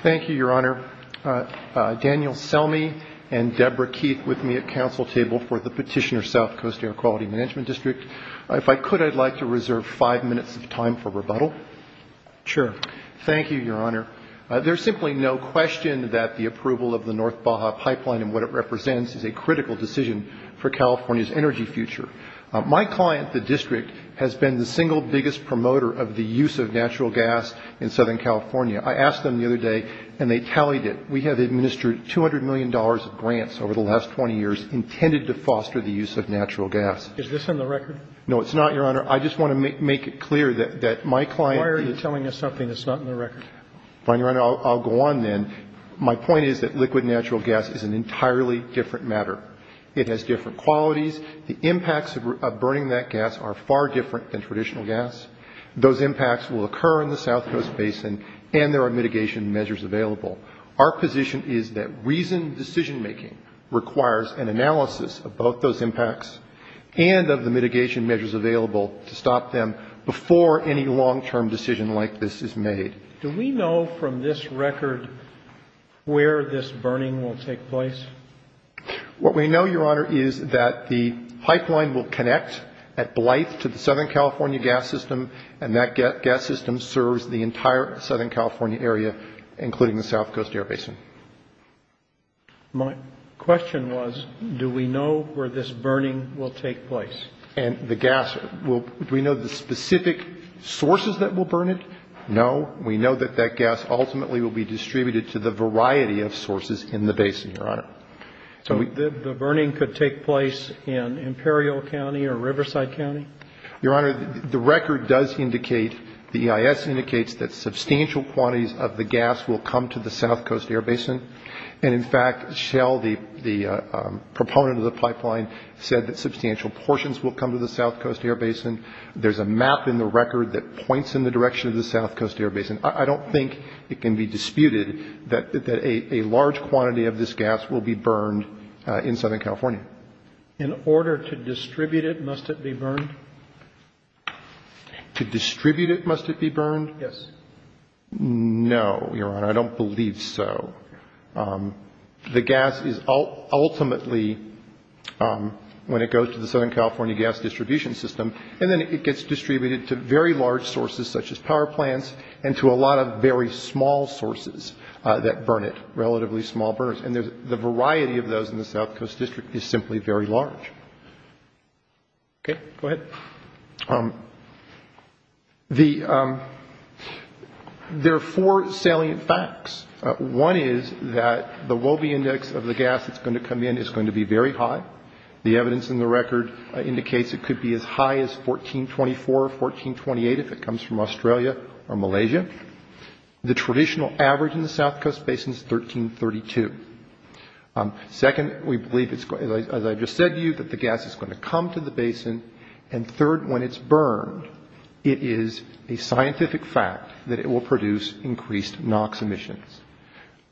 Thank you, Your Honor. Daniel Selmy and Deborah Keith with me at Council Table for the Petitioner South Coast Air Quality Management District. If I could, I'd like to reserve five minutes of time for rebuttal. Sure. Thank you, Your Honor. There's simply no question that the approval of the North Baja Pipeline and what it represents is a critical decision for California's energy future. My client, the District, has been the single biggest promoter of the use of natural gas in Southern California. I asked them the other day and they tallied it. We have administered $200 million of grants over the last 20 years intended to foster the use of natural gas. Is this in the record? No, it's not, Your Honor. I just want to make it clear that my client Why are you telling us something that's not in the record? Fine, Your Honor. I'll go on then. My point is that liquid natural gas is an entirely different matter. It has different qualities. The impacts of burning that gas are far different than traditional gas. Those impacts will occur in the South Coast Basin and there are mitigation measures available. Our position is that reasoned decision making requires an analysis of both those impacts and of the mitigation measures available to stop them before any long-term decision like this is made. Do we know from this record where this burning will take place? What we know, Your Honor, is that the pipeline will connect at Blythe to the Southern California gas system and that gas system serves the entire Southern California area, including the South Coast Air Basin. My question was, do we know where this burning will take place? And the gas, do we know the specific sources that will burn it? No. We know that that gas ultimately will be distributed to the variety of sources in the basin, Your Honor. So the burning could take place in Imperial County or Riverside County? Your Honor, the record does indicate, the EIS indicates, that substantial quantities of the gas will come to the South Coast Air Basin. And in fact, Shell, the proponent of the pipeline, said that substantial portions will come to the South Coast Air Basin. There's a map in the record that points in the direction of the South Coast Air Basin. I don't think it can be disputed that a large quantity of this gas will be burned in Southern California. In order to distribute it, must it be burned? To distribute it, must it be burned? Yes. No, Your Honor, I don't believe so. The gas is ultimately, when it goes to the Southern California gas distribution system, and then it gets distributed to very large sources, such as power plants, and to a lot of very small sources that burn it, relatively small burners. And the variety of those in the South Coast District is simply very large. Okay. Go ahead. There are four salient facts. One is that the Wobbe index of the gas that's going to come in is going to be very high. The evidence in the record indicates it could be as high as 1424, 1428 if it comes from Australia or Malaysia. The traditional average in the South Coast Basin is 1332. Second, we believe, as I just said to you, that the gas is going to come to the basin. And third, when it's burned, it is a scientific fact that it will produce increased NOx emissions.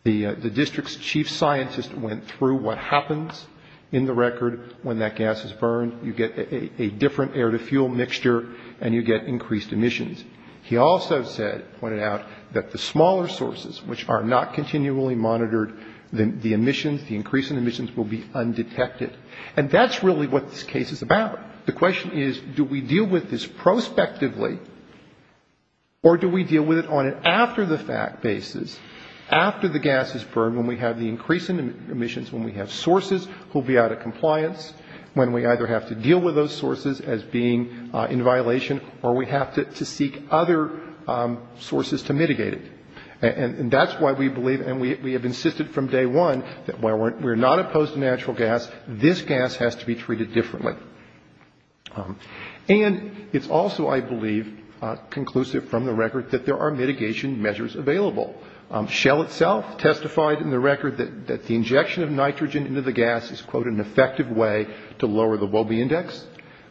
The district's chief scientist went through what happens in the record when that gas is burned. You get a different air-to-fuel mixture, and you get increased emissions. He also said, pointed out, that the smaller sources, which are not continually monitored, the emissions, the increase in emissions, will be undetected. And that's really what this case is about. The question is, do we deal with this prospectively, or do we deal with it on an after-the-fact basis, after the gas is burned, when we have the increase in emissions, when we have sources who will be out of compliance, when we either have to deal with those sources as being in violation, or we have to seek other sources to mitigate it. And that's why we believe, and we have insisted from day one, that while we're not opposed to natural gas, this gas has to be treated differently. And it's also, I believe, conclusive from the record that there are mitigation measures available. Shell itself testified in the record that the injection of nitrogen into the gas is, quote, an effective way to lower the Wellby Index.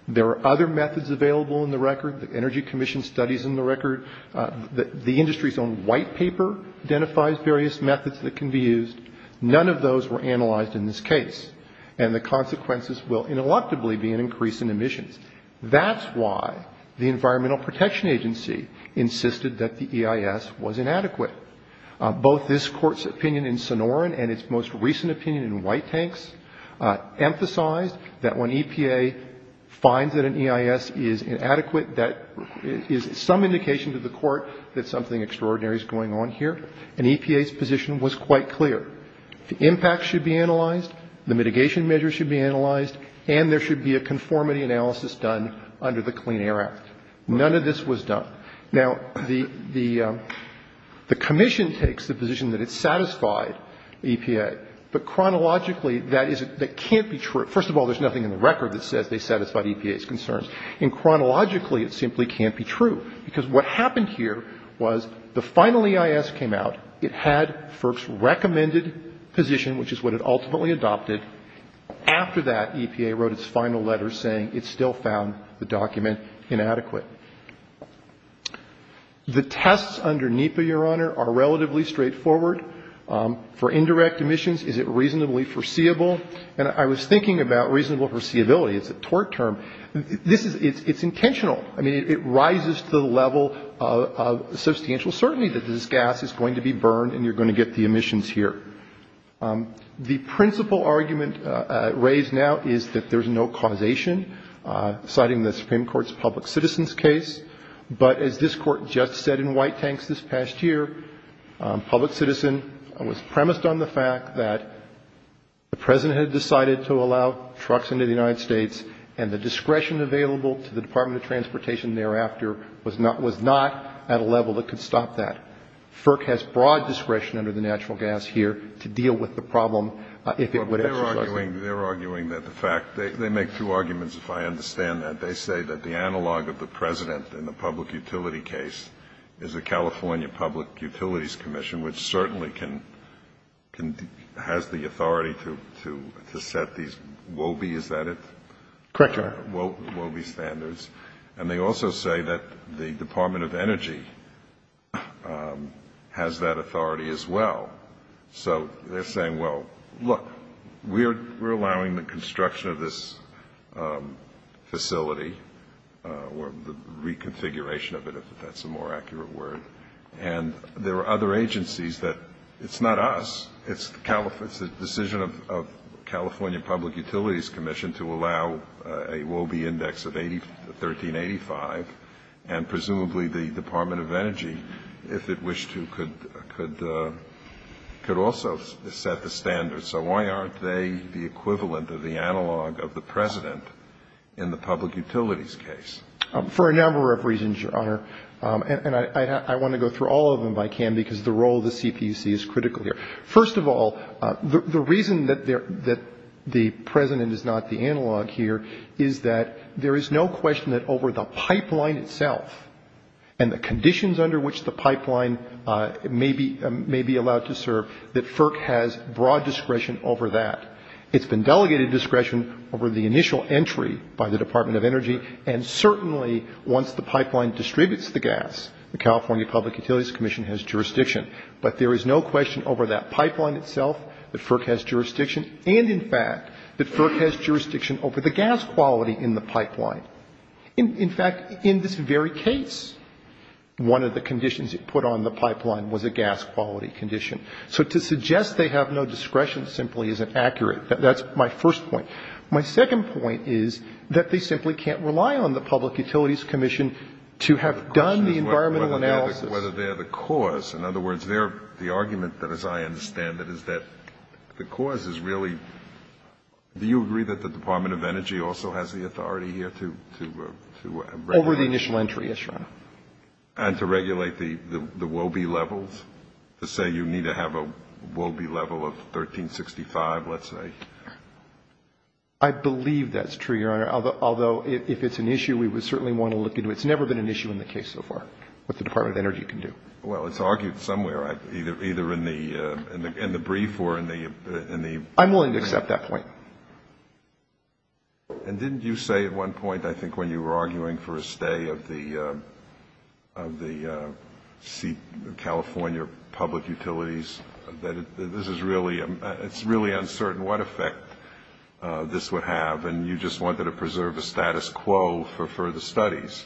There are other methods available in the record, the Energy Commission studies in the record. The industry's own white paper identifies various methods that can be used. None of those were analyzed in this case. And the consequences will, ineluctably, be an increase in emissions. That's why the Environmental Protection Agency insisted that the EIS was inadequate. Both this Court's opinion in Sonoran and its most recent opinion in White Tanks emphasized that when EPA finds that an EIS is inadequate, that is some indication to the Court that something extraordinary is going on here. And EPA's position was quite clear. The impact should be analyzed, the mitigation measures should be analyzed, and there should be a conformity analysis done under the Clean Air Act. None of this was done. Now, the Commission takes the position that it satisfied EPA. But chronologically, that can't be true. First of all, there's nothing in the record that says they satisfied EPA's concerns. And chronologically, it simply can't be true, because what happened here was the final EIS came out, it had FERC's recommended position, which is what it ultimately adopted. After that, EPA wrote its final letter saying it still found the document inadequate. The tests under NEPA, Your Honor, are relatively straightforward. For indirect emissions, is it reasonably foreseeable? And I was thinking about reasonable foreseeability. It's a tort term. This is, it's intentional. I mean, it rises to the level of substantial certainty that this gas is going to be burned and you're going to get the emissions here. The principal argument raised now is that there's no causation, citing the Supreme Court's public citizen's case. But as this Court just said in White Tanks this past year, public citizen was premised on the fact that the President had decided to allow trucks into the United States, and the discretion available to the Department of Transportation thereafter was not, was not at a level that could stop that. FERC has broad discretion under the natural gas here to deal with the problem if it would exercise it. They're arguing that the fact, they make two arguments, if I understand that. They say that the analog of the President in the public utility case is the California Public Utilities Commission, which certainly can, has the authority to set these WOBE, is that it? Correct, Your Honor. WOBE standards. And they also say that the Department of Energy has that authority as well. So they're saying, well, look, we're allowing the construction of this facility, or the reconfiguration of it, if that's a more accurate word. And there are other agencies that, it's not us, it's the decision of California Public Utilities Commission to allow a WOBE of 1385, and presumably the Department of Energy, if it wished to, could also set the standards. So why aren't they the equivalent of the analog of the President in the public utilities case? For a number of reasons, Your Honor. And I want to go through all of them if I can, because the role of the CPC is critical here. First of all, the reason that the President is not the analog here is that there is no question that over the pipeline itself and the conditions under which the pipeline may be allowed to serve, that FERC has broad discretion over that. It's been delegated discretion over the initial entry by the Department of Energy. And certainly, once the pipeline distributes the gas, the California Public Utilities Commission has jurisdiction. But there is no question over that pipeline itself that FERC has jurisdiction over the gas quality in the pipeline. In fact, in this very case, one of the conditions it put on the pipeline was a gas quality condition. So to suggest they have no discretion simply isn't accurate. That's my first point. My second point is that they simply can't rely on the Public Utilities Commission to have done the environmental analysis. The question is whether they're the cause. In other words, the argument, as I understand it, is that the cause is really, do you agree that the Department of Energy also has the authority here to regulate? Over the initial entry, yes, Your Honor. And to regulate the WOBE levels? To say you need to have a WOBE level of 1365, let's say? I believe that's true, Your Honor. Although, if it's an issue, we would certainly want to look into it. It's never been an issue in the case so far, what the Department of Energy can do. Well, it's argued somewhere, either in the brief or in the ---- I'm willing to accept that point. And didn't you say at one point, I think, when you were arguing for a stay of the California public utilities, that this is really uncertain what effect this would have, and you just wanted to preserve the status quo for further studies?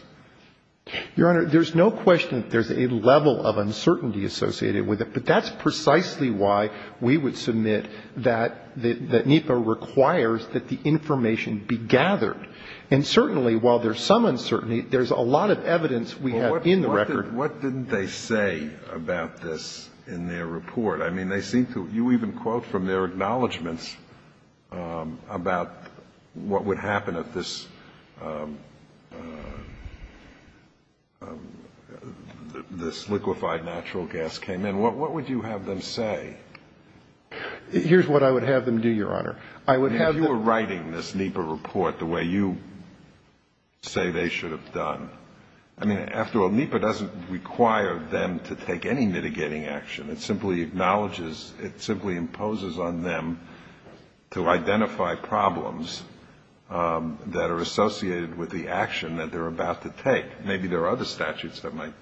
Your Honor, there's no question that there's a level of uncertainty associated with it, but that's precisely why we would submit that NEPA requires that the information be gathered. And certainly, while there's some uncertainty, there's a lot of evidence we have in the record Well, what didn't they say about this in their report? I mean, they seem to, you even quote from their acknowledgements about what would happen if this, if this were to happen, if this liquefied natural gas came in, what would you have them say? Here's what I would have them do, Your Honor. I would have them If you were writing this NEPA report the way you say they should have done, I mean, after all, NEPA doesn't require them to take any mitigating action. It simply acknowledges, it simply imposes on them to identify problems that are associated with the action that they're about to take. Maybe there are other statutes that might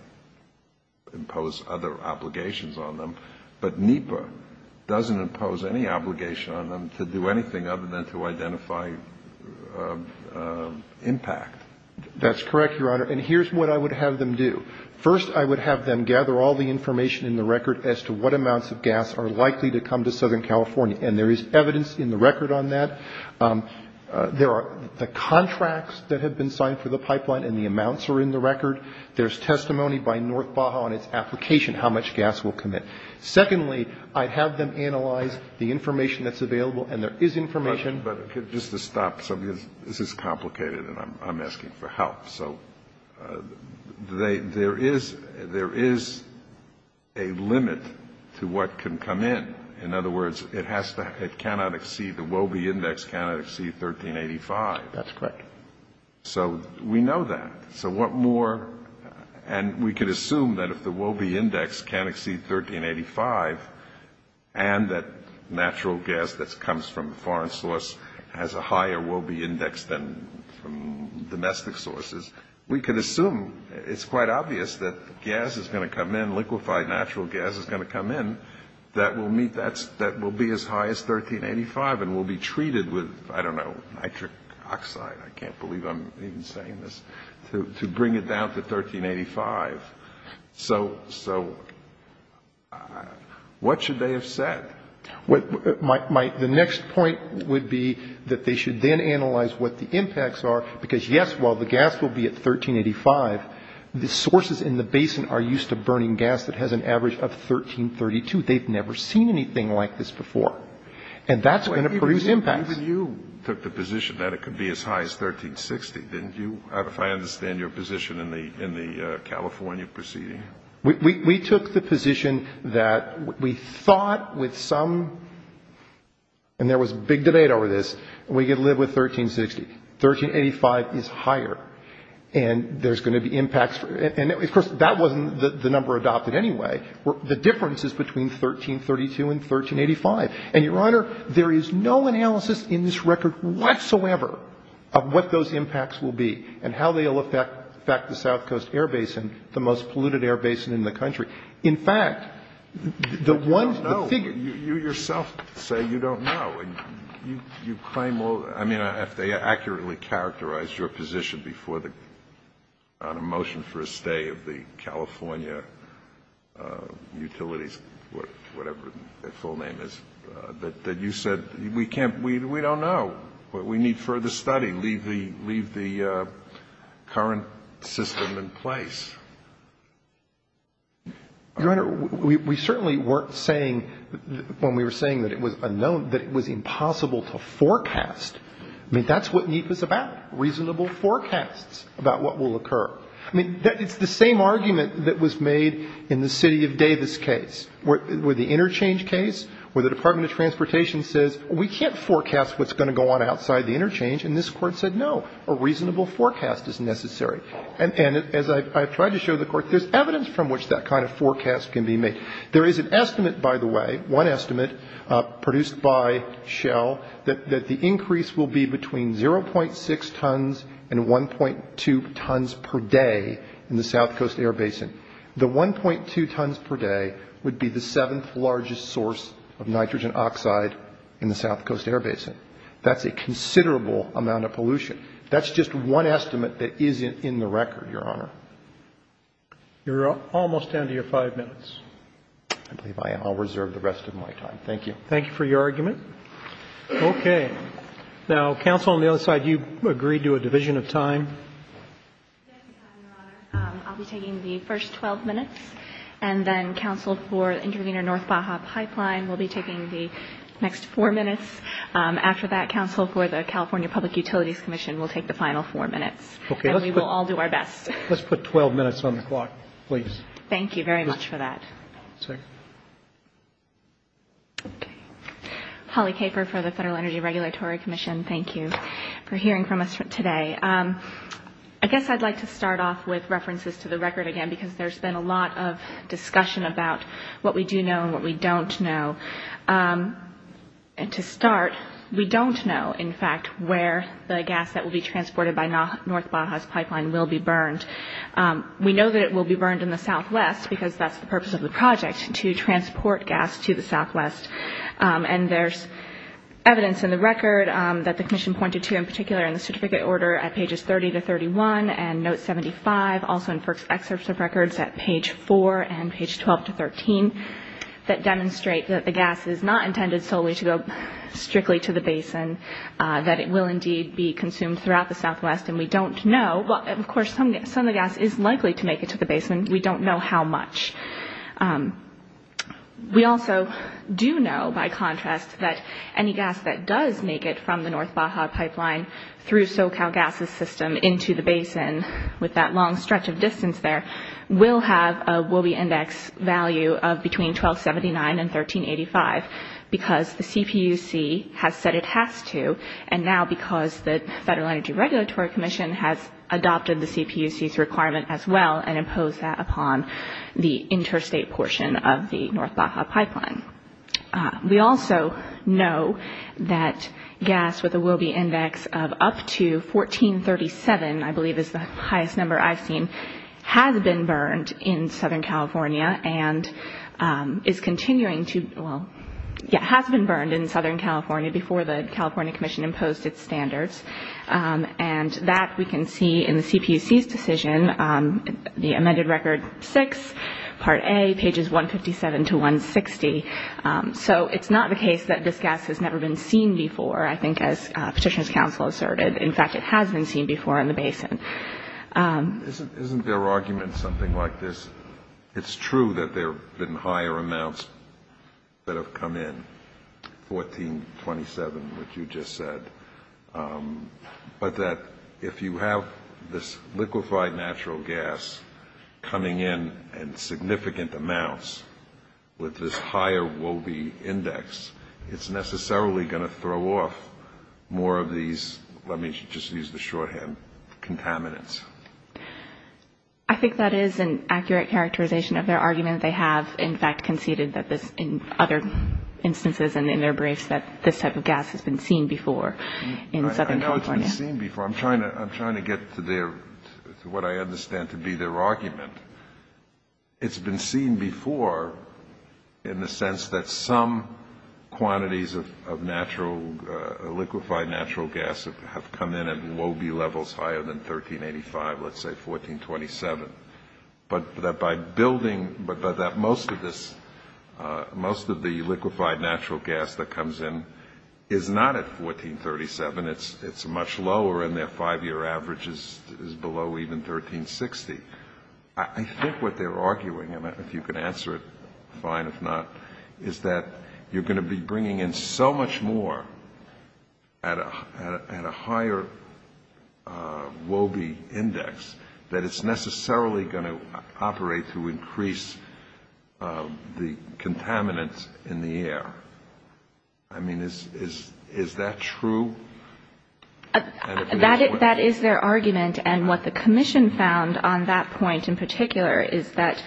impose other obligations on them, but NEPA doesn't impose any obligation on them to do anything other than to identify impact. That's correct, Your Honor. And here's what I would have them do. First, I would have them gather all the information in the record as to what amounts of gas are likely to come to Southern California. And there is evidence in the record on that. There are the contracts that have been signed for the pipeline, and the amounts are in the record. There's testimony by North Baja on its application, how much gas will come in. Secondly, I'd have them analyze the information that's available, and there is information But just to stop, this is complicated, and I'm asking for help. So there is a limit to what can come in. In other words, it has to, it cannot exceed, the Wobbe index cannot exceed 1385. That's correct. So we know that. So what more, and we can assume that if the Wobbe index can't exceed 1385, and that natural gas that comes from a foreign source has a higher Wobbe index than from domestic sources, we can assume, it's quite obvious that gas is going to come in, liquefied natural gas is going to come in, that will meet, that will be as high as 1385. I can't believe I'm even saying this, to bring it down to 1385. So, so, what should they have said? The next point would be that they should then analyze what the impacts are, because yes, while the gas will be at 1385, the sources in the basin are used to burning gas that has an average of 1332. They've never seen anything like this before. And that's going to produce impacts. But even you took the position that it could be as high as 1360, didn't you? If I understand your position in the California proceeding. We took the position that we thought with some, and there was big debate over this, we could live with 1360. 1385 is higher, and there's going to be impacts. And of course, that wasn't the number adopted anyway. The difference is between 1332 and 1385. And, Your Honor, there is no analysis in this record whatsoever of what those impacts will be and how they will affect the South Coast Air Basin, the most polluted air basin in the country. In fact, the one figure you yourself say you don't know, and you claim all, I mean, if they accurately characterized your position before the, on a motion for the stay of the California utilities, whatever their full name is, that you said, we can't we don't know. We need further study. Leave the current system in place. Your Honor, we certainly weren't saying, when we were saying that it was unknown, that it was impossible to forecast. I mean, that's what NEEF is about. Reasonable forecasts about what will occur. I mean, it's the same thing. It's the same thing. It's the same argument that was made in the City of Davis case, where the interchange case, where the Department of Transportation says, we can't forecast what's going to go on outside the interchange, and this Court said, no, a reasonable forecast is necessary. And as I've tried to show the Court, there's evidence from which that kind of forecast can be made. There is an estimate, by the way, one estimate produced by Schell, that the increase will be between 0.6 tons and 1.2 tons per day in the South Coast air basin. The 1.2 tons per day would be the seventh largest source of nitrogen oxide in the South Coast air basin. That's a considerable amount of pollution. That's just one estimate that isn't in the record, Your Honor. You're almost down to your five minutes. I believe I am. I'll reserve the rest of my time. Thank you. Thank you for your argument. Okay. Now, counsel, on the other side, you agreed to a division of time. Yes, Your Honor. I'll be taking the first 12 minutes, and then counsel for Intervenor North Baja Pipeline will be taking the next four minutes. After that, counsel for the California Public Utilities Commission will take the final four minutes. Okay. And we will all do our best. Let's put 12 minutes on the clock, please. Thank you very much for that. Okay. Holly Caper for the Federal Energy Regulatory Commission, thank you for hearing from us today. I guess I'd like to start off with references to the record again because there's been a lot of discussion about what we do know and what we don't know. And to start, we don't know, in fact, where the gas that will be transported by North Baja's pipeline will be burned. We know that it will be burned in the southwest because that's the purpose of the project, to transport gas to the southwest. And there's evidence in the record that the Commission pointed to, in particular in the certificate order at pages 30 to 31, and note 75, also in FERC's excerpts of records at page 4 and page 12 to 13, that demonstrate that the gas is not intended solely to go strictly to the basin, that it will indeed be consumed throughout the southwest, and we don't know. Of course, some of the gas is likely to make it to the basin. We don't know how much. We also do know, by contrast, that any gas that does make it from the North Baja pipeline through SoCal Gas's system into the basin, with that long stretch of distance there, will have a Wobbe index value of between 1279 and 1385 because the CPUC has said it has to, and now because the Federal Energy Regulatory Commission has adopted the CPUC's requirement as well and imposed that upon the interstate portion of the North Baja pipeline. We also know that gas with a Wobbe index of up to 1437, I believe is the highest number I've seen, has been burned in Southern California and is continuing to, well, yeah, has been burned in Southern California before the California Commission imposed its standards. And that we can see in the CPUC's decision, the amended record six, part A, pages 157 to 160. So it's not the case that this gas has never been seen before, I think, as Petitioner's Counsel asserted. In fact, it has been seen before in the basin. Isn't their argument something like this? It's true that there have been higher amounts that have come in, 1427, which you just said, but that if you have this liquefied natural gas coming in in significant amounts with this higher Wobbe index, it's necessarily going to throw off more of these, let me just use the shorthand, contaminants. I think that is an accurate characterization of their argument. They have, in fact, conceded in other instances and in their briefs that this type of gas has been seen before in Southern California. I know it's been seen before. I'm trying to get to what I understand to be their argument. It's been seen before in the sense that some quantities of liquefied natural gas have come in at Wobbe levels higher than 1385, let's say, 1427. But that most of this, most of the liquefied natural gas that comes in is not at 1437. It's much lower, and their five-year average is below even 1360. I think what they're arguing, if you can answer it fine, if not, is that you're bringing in so much more at a higher Wobbe index that it's necessarily going to operate to increase the contaminants in the air. I mean, is that true? That is their argument, and what the commission found on that point in particular is that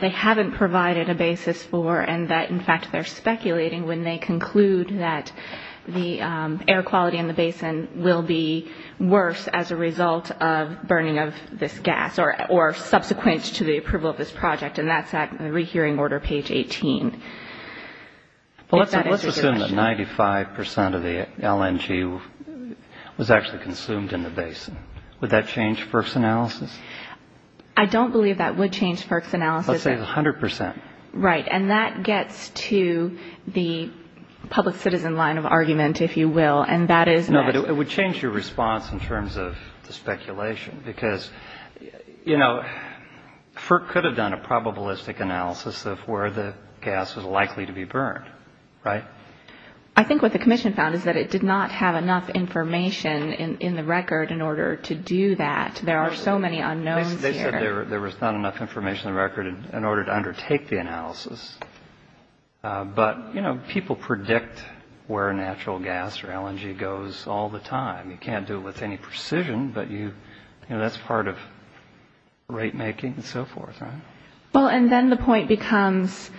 they haven't provided a basis for, and that, in fact, they're speculating when they conclude that the air quality in the basin will be worse as a result of burning of this gas or subsequent to the approval of this project, and that's at the rehearing order, page 18. Well, let's assume that 95 percent of the LNG was actually consumed in the basin. Would that change FERC's analysis? I don't believe that would change FERC's analysis. Let's say 100 percent. Right, and that gets to the public citizen line of argument, if you will, and that is magic. No, but it would change your response in terms of the speculation, because, you know, FERC could have done a probabilistic analysis of where the gas was likely to be burned, right? I think what the commission found is that it did not have enough information in the record in order to do that. There are so many unknowns here. They said there was not enough information in the record in order to undertake the analysis, but, you know, people predict where natural gas or LNG goes all the time. You can't do it with any precision, but, you know, that's part of rate making and so forth, right? Well, and then the point becomes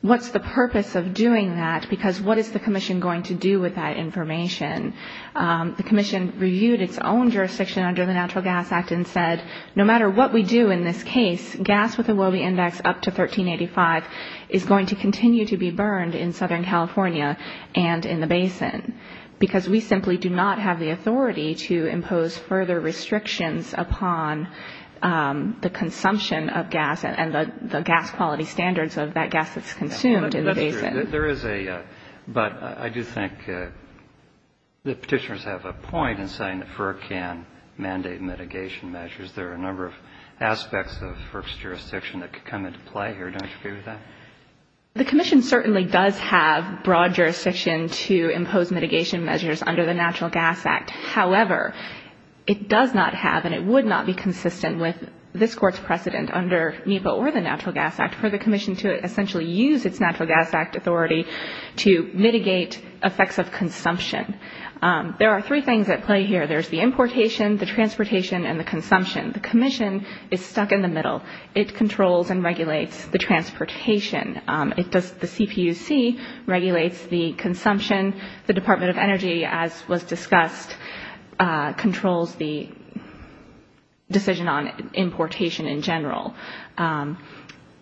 what's the purpose of doing that, because what is the commission going to do with that information? The commission reviewed its own jurisdiction under the Natural Gas Act and said, no matter what we do in this case, gas with a Wobbe index up to 1385 is going to continue to be burned in Southern California and in the basin, because we simply do not have the authority to impose further restrictions upon the consumption of gas and the gas quality standards of that gas that's consumed in the basin. But I do think the Petitioners have a point in saying that FERC can mandate mitigation measures. There are a number of aspects of FERC's jurisdiction that could come into play here. Don't you agree with that? The commission certainly does have broad jurisdiction to impose mitigation measures under the Natural Gas Act. However, it does not have and it would not be consistent with this Court's precedent under NEPA or the Natural Gas Act for the commission to essentially use its Natural Gas Act authority to mitigate effects of consumption. There are three things at play here. There's the importation, the transportation, and the consumption. The commission is stuck in the middle. It controls and regulates the transportation. The CPUC regulates the consumption. The Department of Energy, as was discussed, controls the decision on importation in general.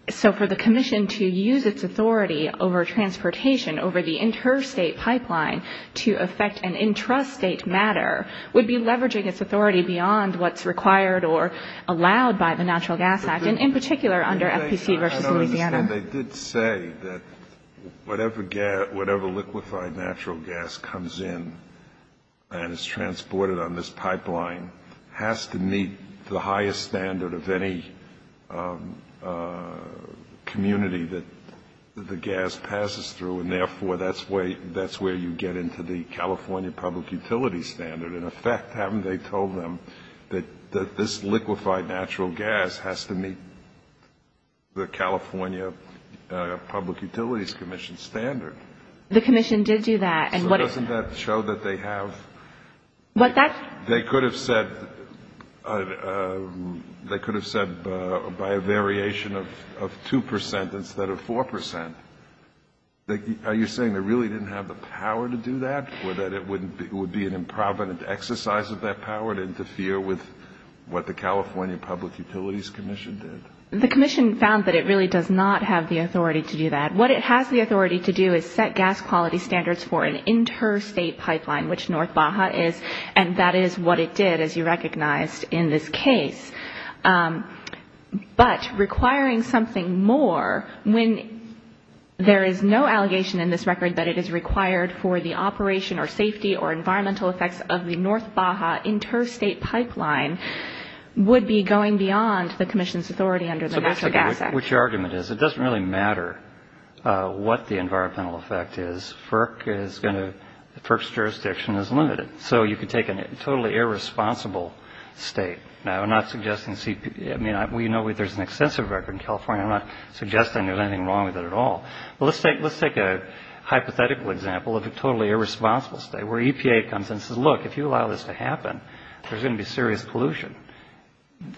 So for the commission to use its authority over transportation over the interstate pipeline to affect an intrastate matter would be leveraging its authority beyond what's required or allowed by the Natural Gas Act, and in particular under FPC v. Louisiana. I don't understand. They did say that whatever liquefied natural gas comes in and is transported on this pipeline has to meet the highest standard of any community that the gas passes through, and therefore that's where you get into the California Public Utilities Standard. In effect, haven't they told them that this liquefied natural gas has to meet the California Public Utilities Commission standard? The commission did do that. So doesn't that show that they have? They could have said by a variation of 2 percent instead of 4 percent. Are you saying they really didn't have the power to do that or that it would be an improvident exercise of that power to interfere with what the California Public Utilities Commission did? The commission found that it really does not have the authority to do that. It did require an interstate pipeline, which North Baja is, and that is what it did, as you recognized in this case. But requiring something more when there is no allegation in this record that it is required for the operation or safety or environmental effects of the North Baja interstate pipeline would be going beyond the commission's authority under the Natural Gas Act. So which argument is it? Well, let's take a hypothetical example of a totally irresponsible state where EPA comes and says, look, if you allow this to happen, there's going to be serious pollution.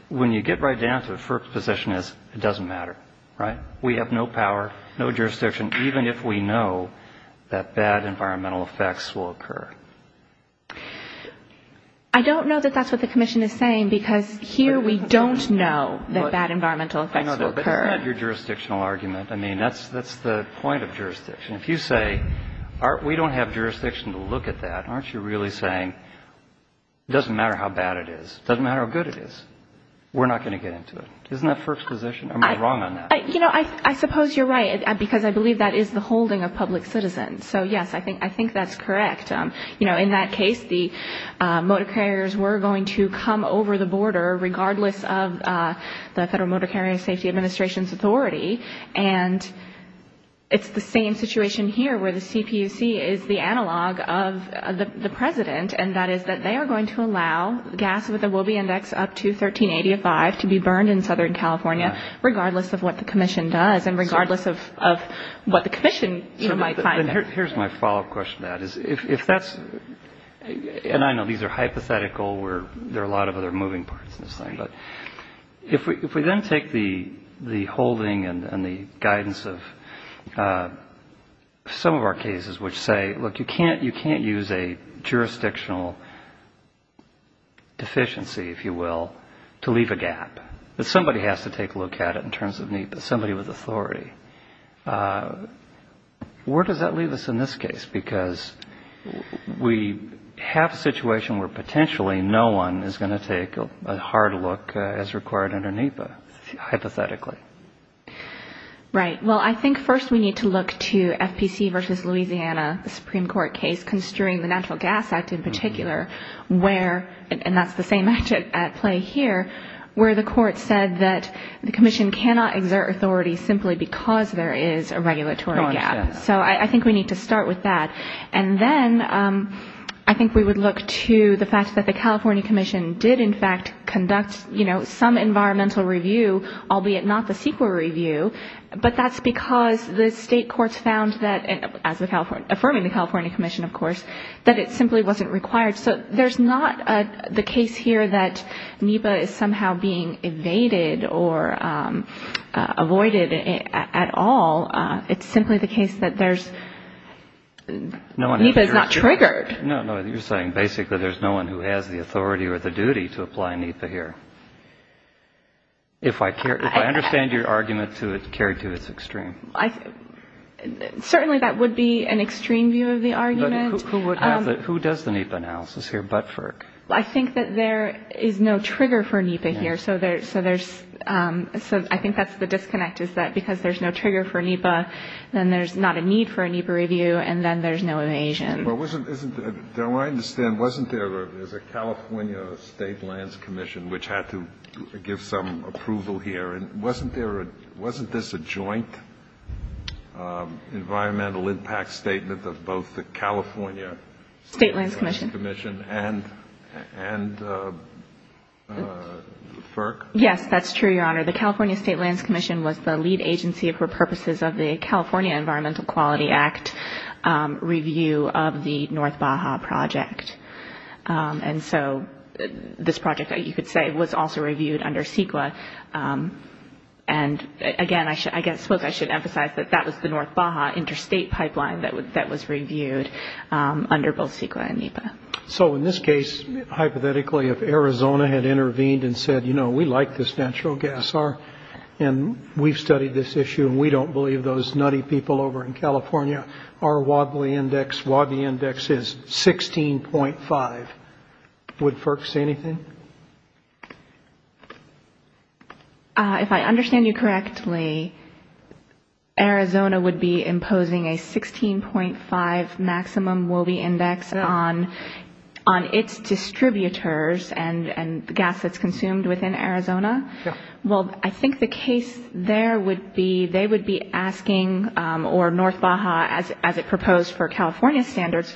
When you get right down to it, the first position is it doesn't matter, right? We have no power, no jurisdiction, even if we know that bad environmental effects will occur. I don't know that that's what the commission is saying, because here we don't know that bad environmental effects will occur. I know, but isn't that your jurisdictional argument? I mean, that's the point of jurisdiction. If you say we don't have jurisdiction to look at that, aren't you really saying it doesn't matter how bad it is, it doesn't matter how good it is, we're not going to get into it? Isn't that first position? Or am I wrong on that? You know, I suppose you're right, because I believe that is the holding of public citizens. So, yes, I think that's correct. You know, in that case, the motor carriers were going to come over the border, regardless of the Federal Motor Carrier Safety Administration's authority, and it's the same situation here where the CPUC is the analog of the vehicle that was brought up to 1385 to be burned in Southern California, regardless of what the commission does and regardless of what the commission might find there. So here's my follow-up question to that. If that's the case, and I know these are hypothetical, there are a lot of other moving parts to this thing, but if we then take the holding and the guidance of some of our cases, which say, look, you can't use a jurisdictional deficiency, if you will, to leave a gap, that somebody has to take a look at it in terms of NEPA, somebody with authority, where does that leave us in this case? Because we have a situation where potentially no one is going to take a hard look as required under NEPA, hypothetically. Right. Well, I think first we need to look to FPC versus Louisiana, the Supreme Court case construing the Natural Gas Act in particular, where, and that's the same at play here, where the court said that the commission cannot exert authority simply because there is a regulatory gap. So I think we need to start with that. And then I think we would look to the fact that the California commission did in fact conduct, you know, some environmental review, albeit not the CEQA review, but that's because the state courts found that, as affirming the California commission, of course, that it simply wasn't required. So there's not the case here that NEPA is somehow being evaded or avoided at all. It's simply the case that there's, NEPA is not triggered. No, no, you're saying basically there's no one who has the authority or the duty to apply NEPA here. If I understand your argument to carry to its extreme. Certainly that would be an extreme view of the argument. Who does the NEPA analysis here but FERC? I think that there is no trigger for NEPA here. So I think that's the disconnect, is that because there's no trigger for NEPA, then there's not a need for a NEPA review, and then there's no evasion. Well, isn't, don't I understand, wasn't there, there's a California State Lands Commission, which had to give some approval here. And wasn't there a, wasn't this a joint environmental impact statement of both the California State Lands Commission and FERC? Yes, that's true, Your Honor. The California State Lands Commission was the lead agency for purposes of the California Environmental Quality Act review of the North Baja project. And so this project, you could say, was also reviewed under CEQA. And again, I suppose I should emphasize that that was the North Baja interstate pipeline that was reviewed under both CEQA and NEPA. So in this case, hypothetically, if Arizona had intervened and said, you know, we like this natural gas, and we've studied this issue, and we don't believe those Wobbly Index, Wobbly Index is 16.5, would FERC say anything? If I understand you correctly, Arizona would be imposing a 16.5 maximum Wobbly Index on its distributors and the gas that's consumed within Arizona? Yes. Well, I think the case there would be they would be asking, or North Baja, as it proposed for California standards,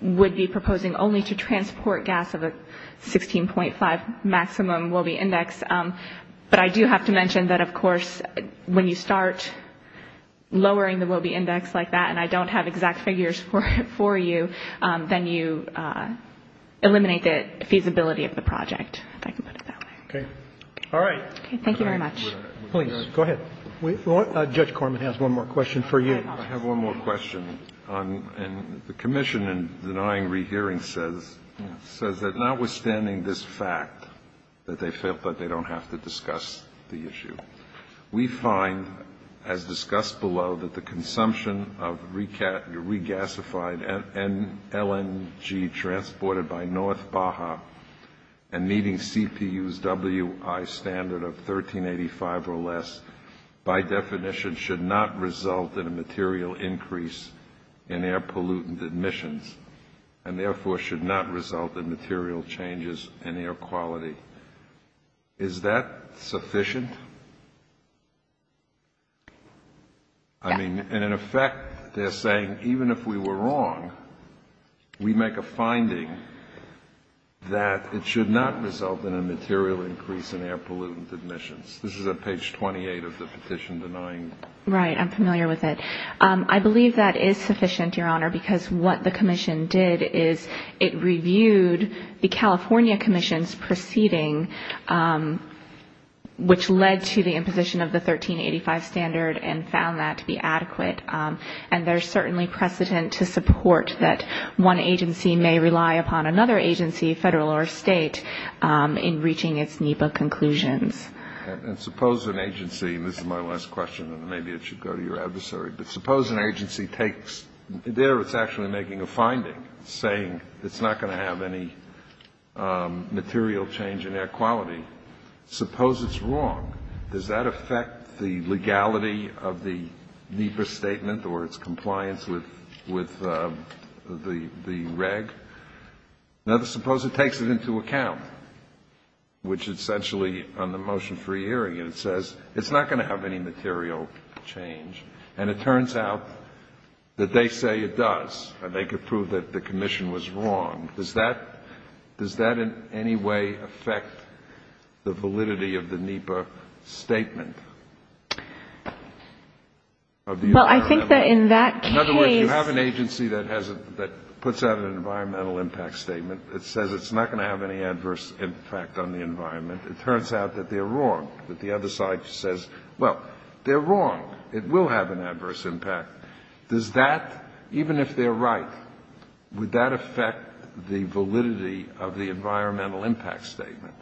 would be proposing only to transport gas of a 16.5 maximum Wobbly Index. But I do have to mention that, of course, when you start lowering the Wobbly Index like that, and I don't have exact figures for you, then you eliminate the feasibility of the project, if I can put it that way. Okay. All right. Thank you very much. Please, go ahead. Judge Corman has one more question for you. I have one more question. And the commission, in denying rehearing, says that notwithstanding this fact that they felt that they don't have to discuss the issue, we find, as discussed below, that the consumption of regasified LNG transported by North Baja and meeting CPU's WI standard of 1385 or less, by definition, should not result in a material increase in air pollutant emissions, and therefore should not result in material changes in air pollutant quality. Is that sufficient? I mean, in effect, they're saying even if we were wrong, we make a finding that it should not result in a material increase in air pollutant emissions. This is on page 28 of the petition denying. Right. I'm familiar with it. I believe that is sufficient, Your Honor, because what the commission did is it reviewed the California commission's proceeding, which led to the imposition of the 1385 standard, and found that to be adequate. And there's certainly precedent to support that one agency may rely upon another agency, Federal or State, in reaching its NEPA conclusions. And suppose an agency, and this is my last question, and maybe it should go to your adversary, but suppose an agency takes there, it's actually making a finding, saying it's not going to have any material change in air quality. Suppose it's wrong. Does that affect the legality of the NEPA statement or its compliance with the reg? Now, suppose it takes it into account, which essentially on the motion for hearing, it says it's not going to have any material change. And it turns out that that material change in air quality is not going to have any adverse impact on the environment. If they say it does, and they could prove that the commission was wrong, does that in any way affect the validity of the NEPA statement? Well, I think that in that case you have an agency that puts out an environmental impact statement that says it's not going to have any adverse impact on the environment. It turns out that they're wrong. But the other side says, well, they're wrong. It will have an adverse impact. Does that, even if they're right, would that affect the validity of the environmental impact statement?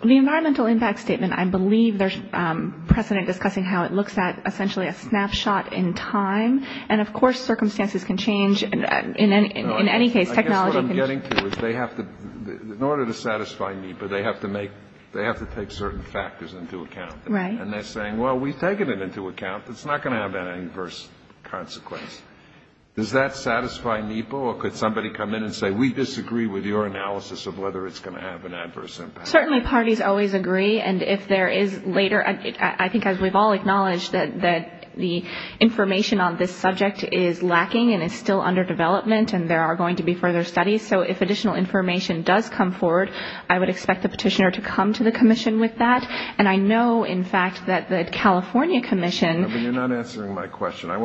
The environmental impact statement, I believe there's precedent discussing how it looks at essentially a snapshot in time. And, of course, circumstances can change. In any case, technology can change. No, I guess what I'm getting to is they have to, in order to satisfy me, but they have to make, they have to take certain factors into account. And they're saying, well, we've taken it into account. It's not going to have an adverse consequence. Does that satisfy NEPA? Or could somebody come in and say, we disagree with your analysis of whether it's going to have an adverse impact? Certainly parties always agree. And if there is later, I think as we've all acknowledged that the information on this subject is lacking and is still under development and there are going to be further studies. So if additional information does come forward, I would expect the NEPA to come forward.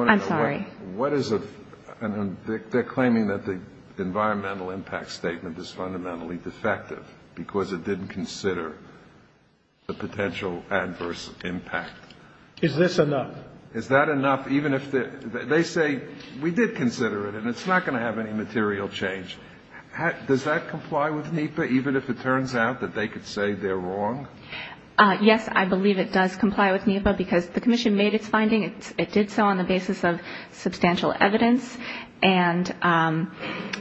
I'm sorry. They're claiming that the environmental impact statement is fundamentally defective because it didn't consider the potential adverse impact. Is this enough? Is that enough, even if they say, we did consider it and it's not going to have any material change? Does that comply with NEPA, even if it turns out that they could say they're wrong? Yes, I believe it does comply with NEPA, because the commission made its finding. It did so on the basis of substantial evidence. And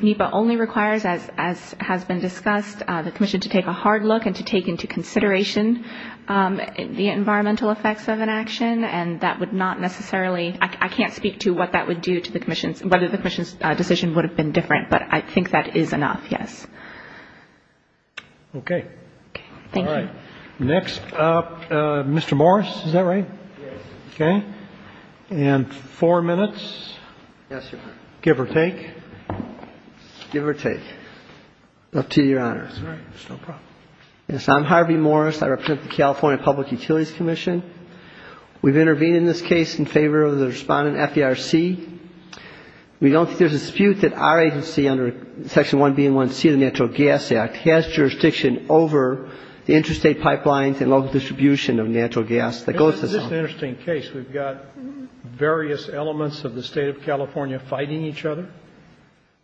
NEPA only requires, as has been discussed, the commission to take a hard look and to take into consideration the environmental effects of an adverse impact. I can't speak to what that would do to the commission, whether the commission's decision would have been different, but I think that is enough, yes. Okay. All right. Next up, Mr. Morris, is that right? Okay. And four minutes, give or take. Up to you, Your Honor. Yes, I'm Harvey Morris. I represent the California Public Utilities Commission. We've intervened in this case in favor of the respondent, FDRC. We don't think there's a dispute that our agency under Section 1B and 1C of the Natural Gas Act has jurisdiction over the interstate pipelines and local distribution of natural gas that goes to the zone. That's an interesting case. We've got various elements of the State of California fighting each other.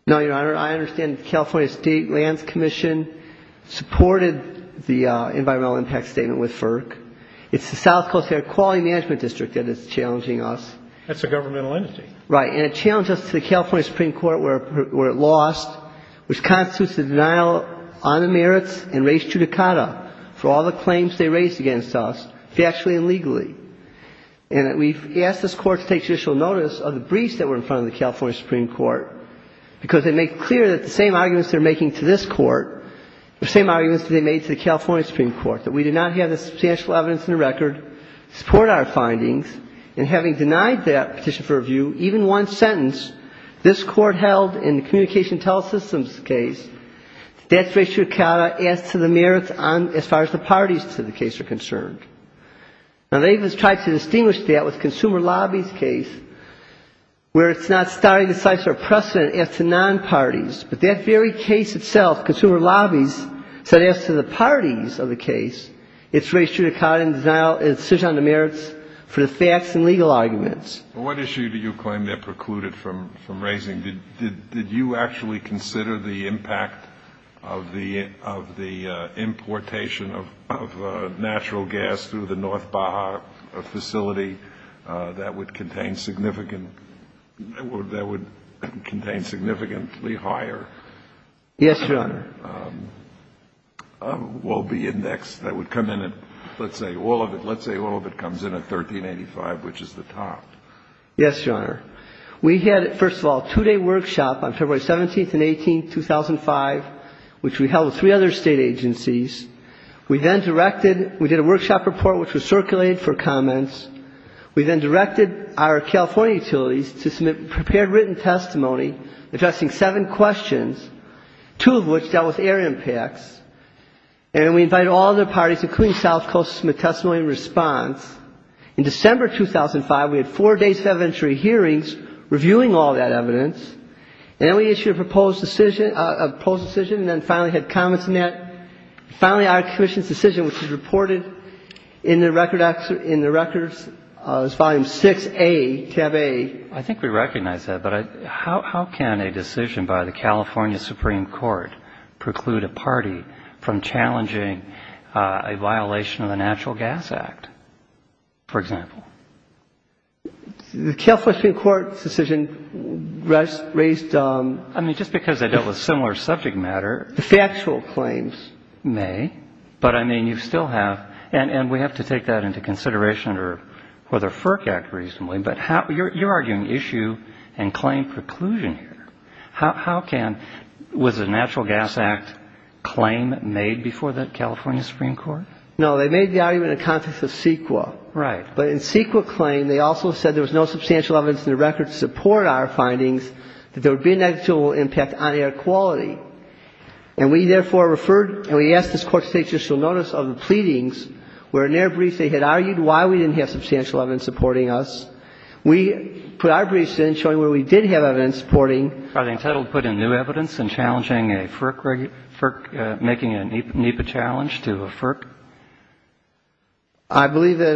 No, Your Honor. I understand the California State Lands Commission supported the environmental impact statement with FERC. It's the South Coast Air Quality Management District that is challenging us. That's a governmental entity. Right. And it challenged us to the California Supreme Court where it lost, which constitutes a denial on the merits and raised judicata for all the claims they raised against us factually and legally. And we've asked this Court to take judicial notice of the briefs that were in front of the California Supreme Court because they make clear that the same arguments they're making to this Court, the same arguments they made to the California Supreme Court, that we do not have the substantial evidence in the record to support our findings. And having denied that petition for review, even one sentence, this Court held in the communication telesystems case, that's raised judicata as to the merits as far as the parties to the case are concerned. Now, they even tried to distinguish that with the consumer lobbies case where it's not starting to cite a precedent as to non-parties. But that very case itself, consumer lobbies, said as to the parties of the case, it's raised judicata and a decision on the merits for the facts and legal arguments. And what issue do you claim they've precluded from raising? Did you actually consider the impact of the importation of natural gas through the North Baja facility that would contain significant or that would contain significantly higher... Yes, Your Honor. ...well-being index that would come in at, let's say, all of it comes in at 1385, which is the top? Yes, Your Honor. We had, first of all, a two-day workshop on February 17th and 18th, 2005, which we held with three other State agencies. We then directed we did a workshop report which was circulated for comments. We then directed our California utilities to submit prepared written testimony addressing seven questions, two of which dealt with air impacts. And we invited all other parties, including South Coast to submit testimony in response. In December 2005, we had four days of evidentiary hearings reviewing all that evidence. And then we issued a proposed decision, and then finally had comments in that. Finally, our commission's decision, which is reported in the record, in the records, is Volume 6a, tab a. I think we recognize that, but how can a decision by the California Supreme Court preclude a party from challenging a violation of the Natural Gas Act, for example? The California Supreme Court's decision raised... I mean, just because they dealt with similar subject matter... The factual claims. May. But, I mean, you still have, and we have to take that into consideration under the FERC Act reasonably, but you're arguing issue and claim preclusion here. How can, was the Natural Gas Act claim made before the California Supreme Court? No, they made the argument in the context of CEQA. Right. But in CEQA claim, they also said there was no substantial evidence in the record to support our findings that there would be a negligible impact on air quality. And we therefore referred, and we asked this Court to take judicial notice of the pleadings where in their brief they had argued why we didn't have substantial evidence supporting us. We put our briefs in showing where we did have evidence supporting... Are they entitled to put in new evidence in challenging a FERC, making a NEPA challenge to a FERC? I believe that,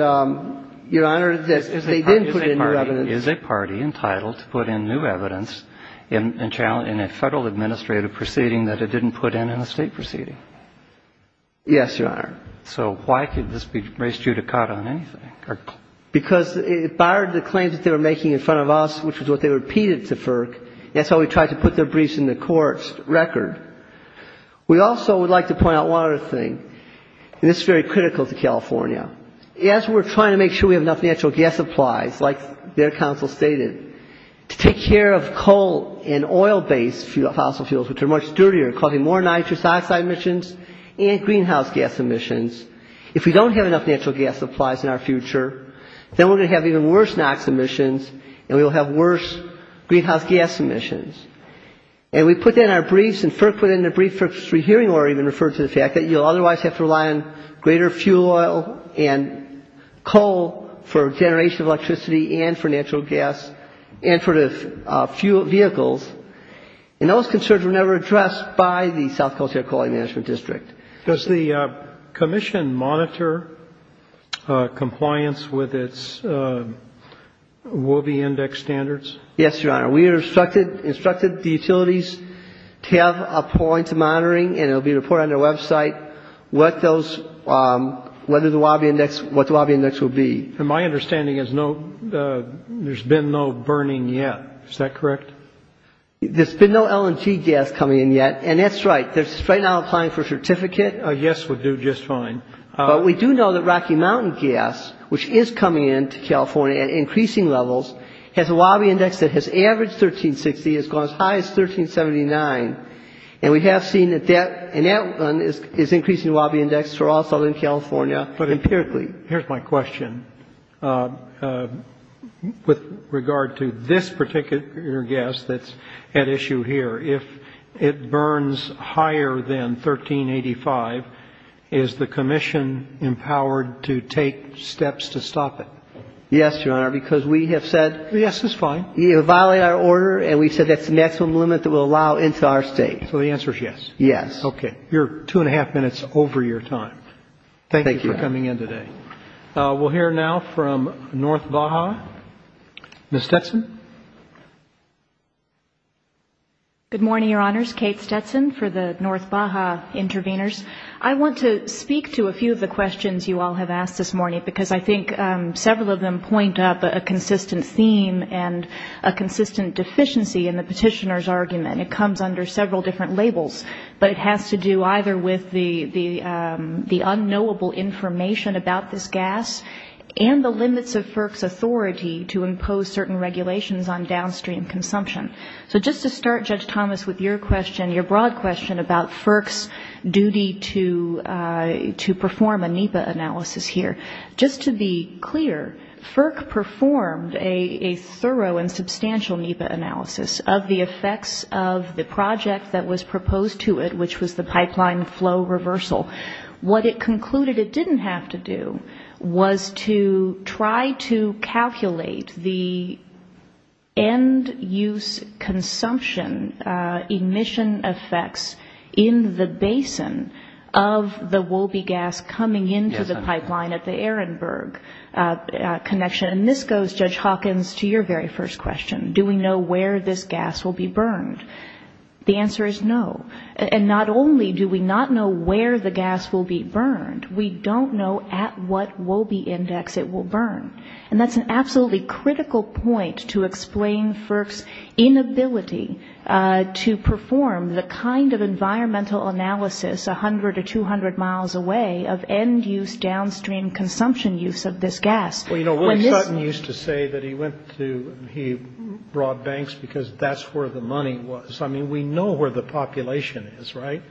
Your Honor, that they didn't put in new evidence... Is a party entitled to put in new evidence in a Federal administrative proceeding that it didn't put in in a State proceeding? Yes, Your Honor. So why could this be raised judicata on anything? Because it barred the claims that they were making in front of us, which is what they repeated to FERC. That's why we tried to put their briefs in the Court's record. We also would like to point out one other thing, and this is very critical to California. As we're trying to make sure we have enough natural gas supplies, like their counsel stated, to take care of coal and oil-based fossil fuels, which are much dirtier, causing more nitrous oxide emissions and greenhouse gas emissions. If we don't have enough natural gas supplies in our future, then we're going to have even worse NOx emissions and we will have worse greenhouse gas emissions. And we put that in our briefs, and FERC put it in their briefs for hearing or even referred to the fact that you'll otherwise have to rely on greater fuel oil and coal for generation of electricity and for natural gas and for the fuel vehicles. And those concerns were never addressed by the South Coast Air Quality Management District. Does the Commission monitor compliance with its WOBI index standards? We have instructed the utilities to have a point monitoring, and it will be reported on their website what those, whether the WOBI index, what the WOBI index will be. And my understanding is no, there's been no burning yet. Is that correct? There's been no LNG gas coming in yet, and that's right. They're right now applying for a certificate. A yes would do just fine. But we do know that Rocky Mountain gas, which is coming into California at increasing levels, has a WOBI index that has averaged 1360. It's gone as high as 1379, and we have seen that that, and that one is increasing the WOBI index for all Southern California empirically. But here's my question. With regard to this particular gas that's at issue here, if it burns higher than 1385, is the Commission going to be able to determine Is the Commission empowered to take steps to stop it? Yes, Your Honor, because we have said you violate our order, and we said that's the maximum limit that we'll allow into our State. So the answer is yes? Yes. Okay. You're two and a half minutes over your time. Thank you for coming in today. We'll hear now from North Baja. Ms. Stetson? Good morning, Your Honors. Kate Stetson for the North Baja intervenors. I want to speak to a few of the questions you all have asked this morning, because I think several of them point up a consistent theme and a consistent deficiency in the petitioner's argument. It comes under several different labels, but it has to do either with the unknowable information about this gas and the limits of FERC's authority to impose certain regulations on downstream consumption. So just to start, Judge Thomas, with your question, your broad question about FERC's duty to perform a NEPA analysis here, just to be clear, FERC performed a thorough and substantial NEPA analysis of the effects of the project that was proposed to it, which was the pipeline flow reversal. What it concluded it didn't have to do was to try to calculate the end-use consumption emission effects in the basin of the connection. And this goes, Judge Hawkins, to your very first question, do we know where this gas will be burned? The answer is no. And not only do we not know where the gas will be burned, we don't know at what WOBI index it will burn. And that's an absolutely critical point to explain FERC's inability to perform the kind of environmental analysis 100 or 200 miles away of the end-use, downstream consumption use of this gas. Well, you know, William Sutton used to say that he went to, he brought banks because that's where the money was. I mean, we know where the population is, right?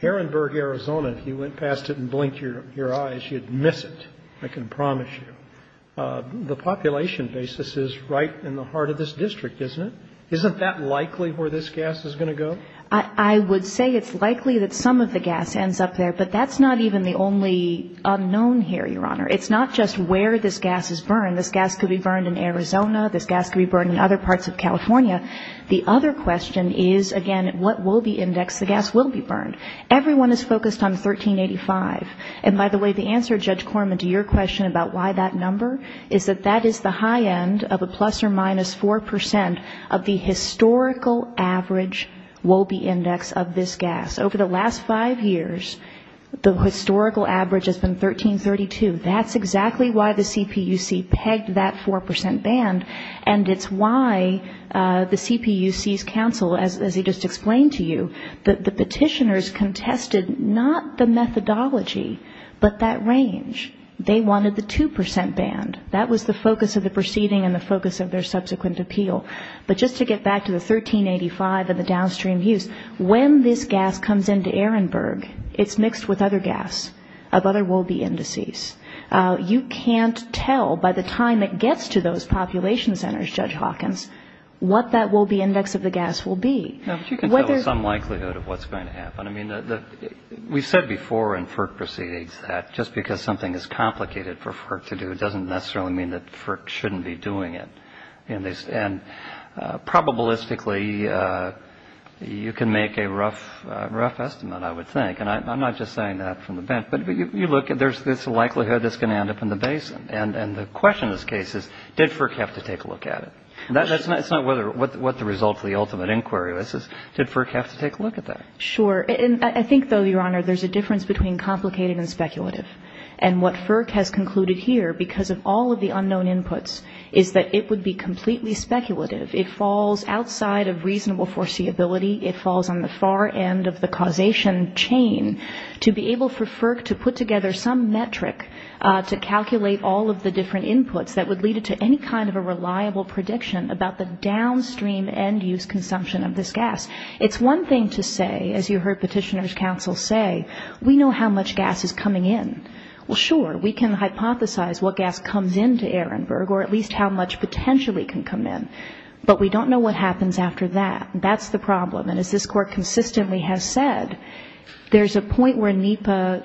Herrenberg, Arizona, if you went past it and blinked your eyes, you'd miss it, I can promise you. The population basis is right in the heart of this district, isn't it? Isn't that likely where this gas is going to go? I would say it's likely that some of the gas ends up there, but that's not even the only unknown here, Your Honor. It's not just where this gas is burned. This gas could be burned in Arizona, this gas could be burned in other parts of California. The other question is, again, at what WOBI index the gas will be burned. Everyone is focused on 1385. And by the way, the answer, Judge Corman, to your question about why that number, is that that is the high end of a plus or minus 4 percent of the historical average WOBI index of this gas. Over the last five years, the historical average has been 1332. That's exactly why the CPUC pegged that 4 percent band, and it's why the CPUC's counsel, as he just explained to you, the petitioners contested not the methodology, but that range. They wanted the 2 percent band. That was the focus of the proceeding and the focus of their subsequent appeal. But just to get back to the 1385 and the downstream use, when this gas comes into Ehrenberg, it's mixed with other gas of other WOBI indices. You can't tell by the time it gets to those population centers, Judge Hawkins, what that WOBI index of the gas will be. Now, but you can tell with some likelihood of what's going to happen. I mean, we've said before in FERC proceedings that just because something is complicated for FERC to do doesn't necessarily mean that FERC shouldn't be doing it. And probabilistically, you can make a rough estimate, I would think. And I'm not just saying that from the bench. But you look, there's this likelihood it's going to end up in the basin. And the question in this case is, did FERC have to take a look at it? That's not what the result of the ultimate inquiry was, is did FERC have to take a look at that? Sure. And I think, though, Your Honor, there's a difference between complicated and speculative. And what FERC has concluded here, because of all of the unknown inputs, is that it would be completely speculative. It falls outside of reasonable foreseeability. It falls on the far end of the causation chain. To be able for FERC to put together some metric to calculate all of the different inputs that would lead it to any kind of a reliable prediction about the downstream end-use consumption of this gas. It's one thing to say, as you heard Petitioner's Counsel say, we know how much gas is coming in. Well, sure, we can hypothesize what gas comes into Ehrenberg, or at least how much potentially can come in. But we don't know what happens after that. That's the problem. And as this Court consistently has said, there's a point where NEPA,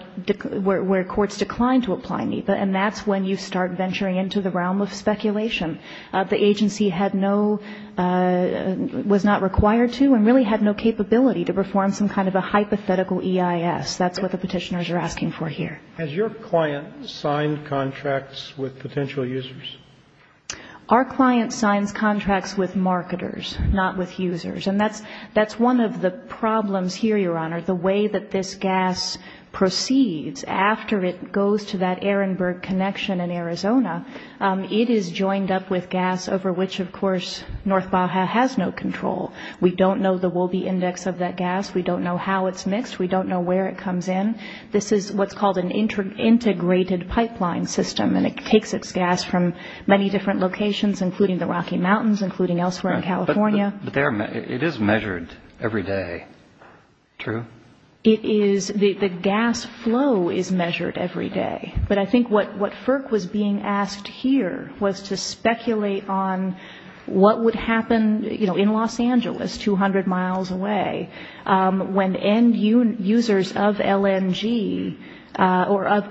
where courts decline to apply NEPA. And that's when you start venturing into the realm of speculation. The agency had no, was not required to, and really had no capability to perform some kind of a hypothetical EIS. That's what the Petitioners are asking for here. Has your client signed contracts with potential users? Our client signs contracts with marketers, not with users. And that's one of the problems here, Your Honor. The way that this gas proceeds after it goes to that Ehrenberg connection in Arizona, it is joined up with gas over which, of course, North Baja has no control. We don't know the Wolbe index of that gas. We don't know how it's mixed. We don't know where it comes in. This is what's called an integrated pipeline system. And it takes its gas from many different locations, including the Rocky Mountains, including elsewhere in California. But it is measured every day, true? It is. The gas flow is measured every day. But I think what FERC was being asked here was to speculate on what would happen, you know, in Los Angeles, 200 miles away, when end users of LNG, or end users of NEPA, end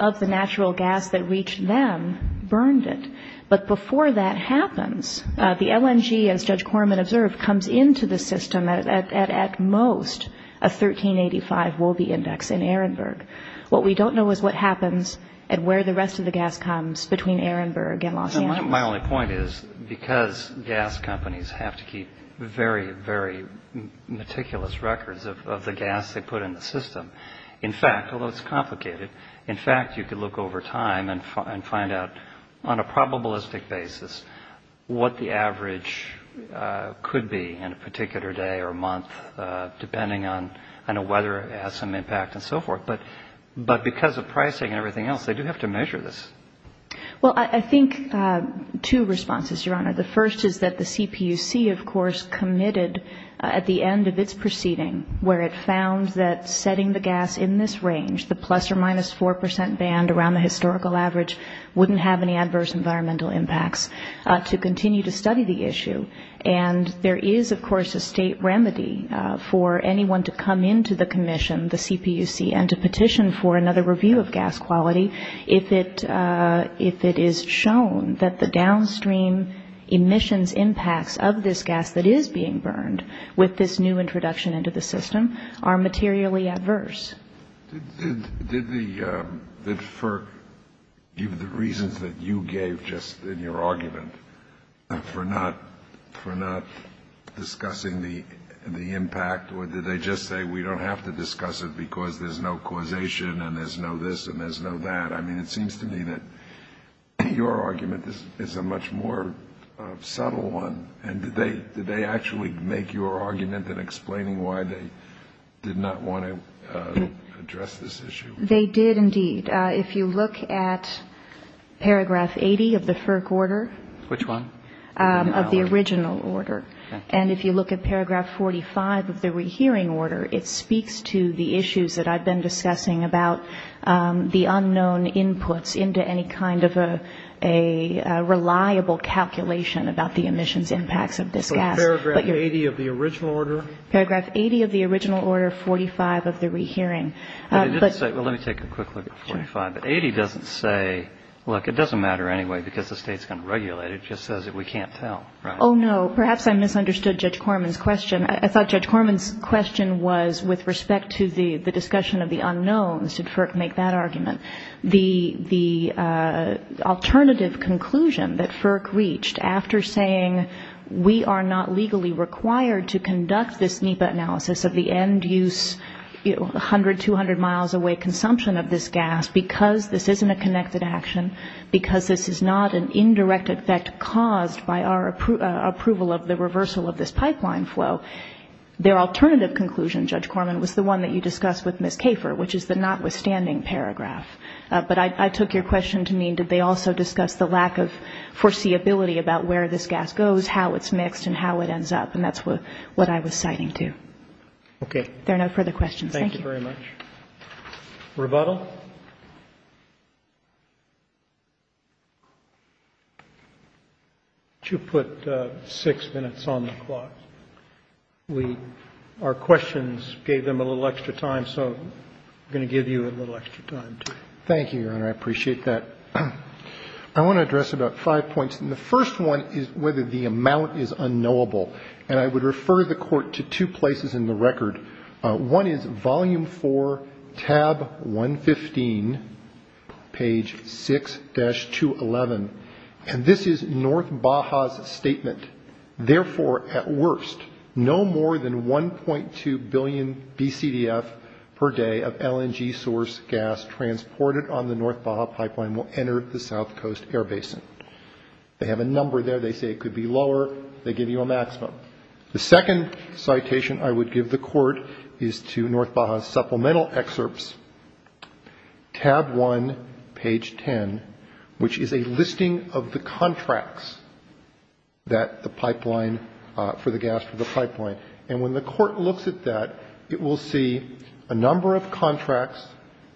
users of NEPA, end users of NEPA, end users of NEPA, end users of NEPA, end users of NEPA, end users of NEPA, end users of NEPA, end users of NEPA, end users of NEPA. But the LNG system, of the natural gas that reached them, burned it. But before that happens, the LNG, as Judge Corman observed, comes into the system at most a 1385 Wolbe index in Ehrenberg. What we don't know is what happens and where the rest of the gas comes between Ehrenberg and Los Angeles. My only point is, because gas companies have to keep very, very meticulous records of the gas they put in the system, in fact, although it's complicated, in fact, you could look over time and find out on a probabilistic basis what the average could be in a particular day or month, depending on whether it has some impact and so forth. But because of pricing and everything else, they do have to And so I have two responses, Your Honor. The first is that the CPUC, of course, committed at the end of its proceeding, where it found that setting the gas in this range, the plus or minus 4 percent band around the historical average, wouldn't have any adverse environmental impacts, to continue to study the issue. And there is, of course, a state remedy for anyone to come into the commission, the CPUC, and to petition for downstream emissions impacts of this gas that is being burned with this new introduction into the system are materially adverse. Did the, for the reasons that you gave just in your argument, for not discussing the impact, or did they just say, we don't have to discuss it because there's no causation and there's no this and there's no that? I mean, it seems to me that your argument is a much more subtle one. And did they actually make your argument in explaining why they did not want to address this issue? They did, indeed. If you look at paragraph 80 of the FERC order. Which one? Of the original order. And if you look at paragraph 45 of the rehearing order, it speaks to the issues that I've been discussing about the unknown inputs into any kind of a reliable calculation about the emissions impacts of this gas. But paragraph 80 of the original order? Paragraph 80 of the original order, 45 of the rehearing. But let me take a quick look at 45. But 80 doesn't say, look, it doesn't matter anyway, because the state's going to regulate it. It just says that we can't tell. Oh, no. Perhaps I misunderstood Judge Corman's question. I thought Judge Corman's question was with respect to the discussion of the unknowns. Did FERC make that argument? The alternative conclusion that FERC reached after saying we are not legally required to conduct this NEPA analysis of the end use, 100, 200 miles away consumption of this gas, because this isn't a connected action, because this is not an indirect effect caused by our approval of the reversal of this pipeline flow. Their alternative conclusion, Judge Corman, was the one that you discussed with Ms. Kafer, which is the notwithstanding paragraph. But I took your question to mean, did they also discuss the lack of foreseeability about where this gas goes, how it's mixed, and how it ends up? And that's what I was citing, too. Okay. There are no further questions. Thank you. Thank you very much. Rebuttal? You put six minutes on the clock. Our questions gave them a little extra time, so I'm going to give you a little extra time, too. Thank you, Your Honor. I appreciate that. I want to address about five points. And the first one is whether the amount is unknowable. And I would refer the court to two places in the record. One is volume four, tab 150, and the other is volume three, tab 151. Volume three, tab 115, page 6-211. And this is North Baja's statement. Therefore, at worst, no more than 1.2 billion BCDF per day of LNG source gas transported on the North Baja pipeline will enter the South Coast air basin. They have a number there. They say it could be lower. They give you a maximum. The second citation I would give the court is to North Baja's supplemental excerpts, tab 1, page 10, which is a listing of the contracts that the pipeline for the gas for the pipeline. And when the court looks at that, it will see a number of contracts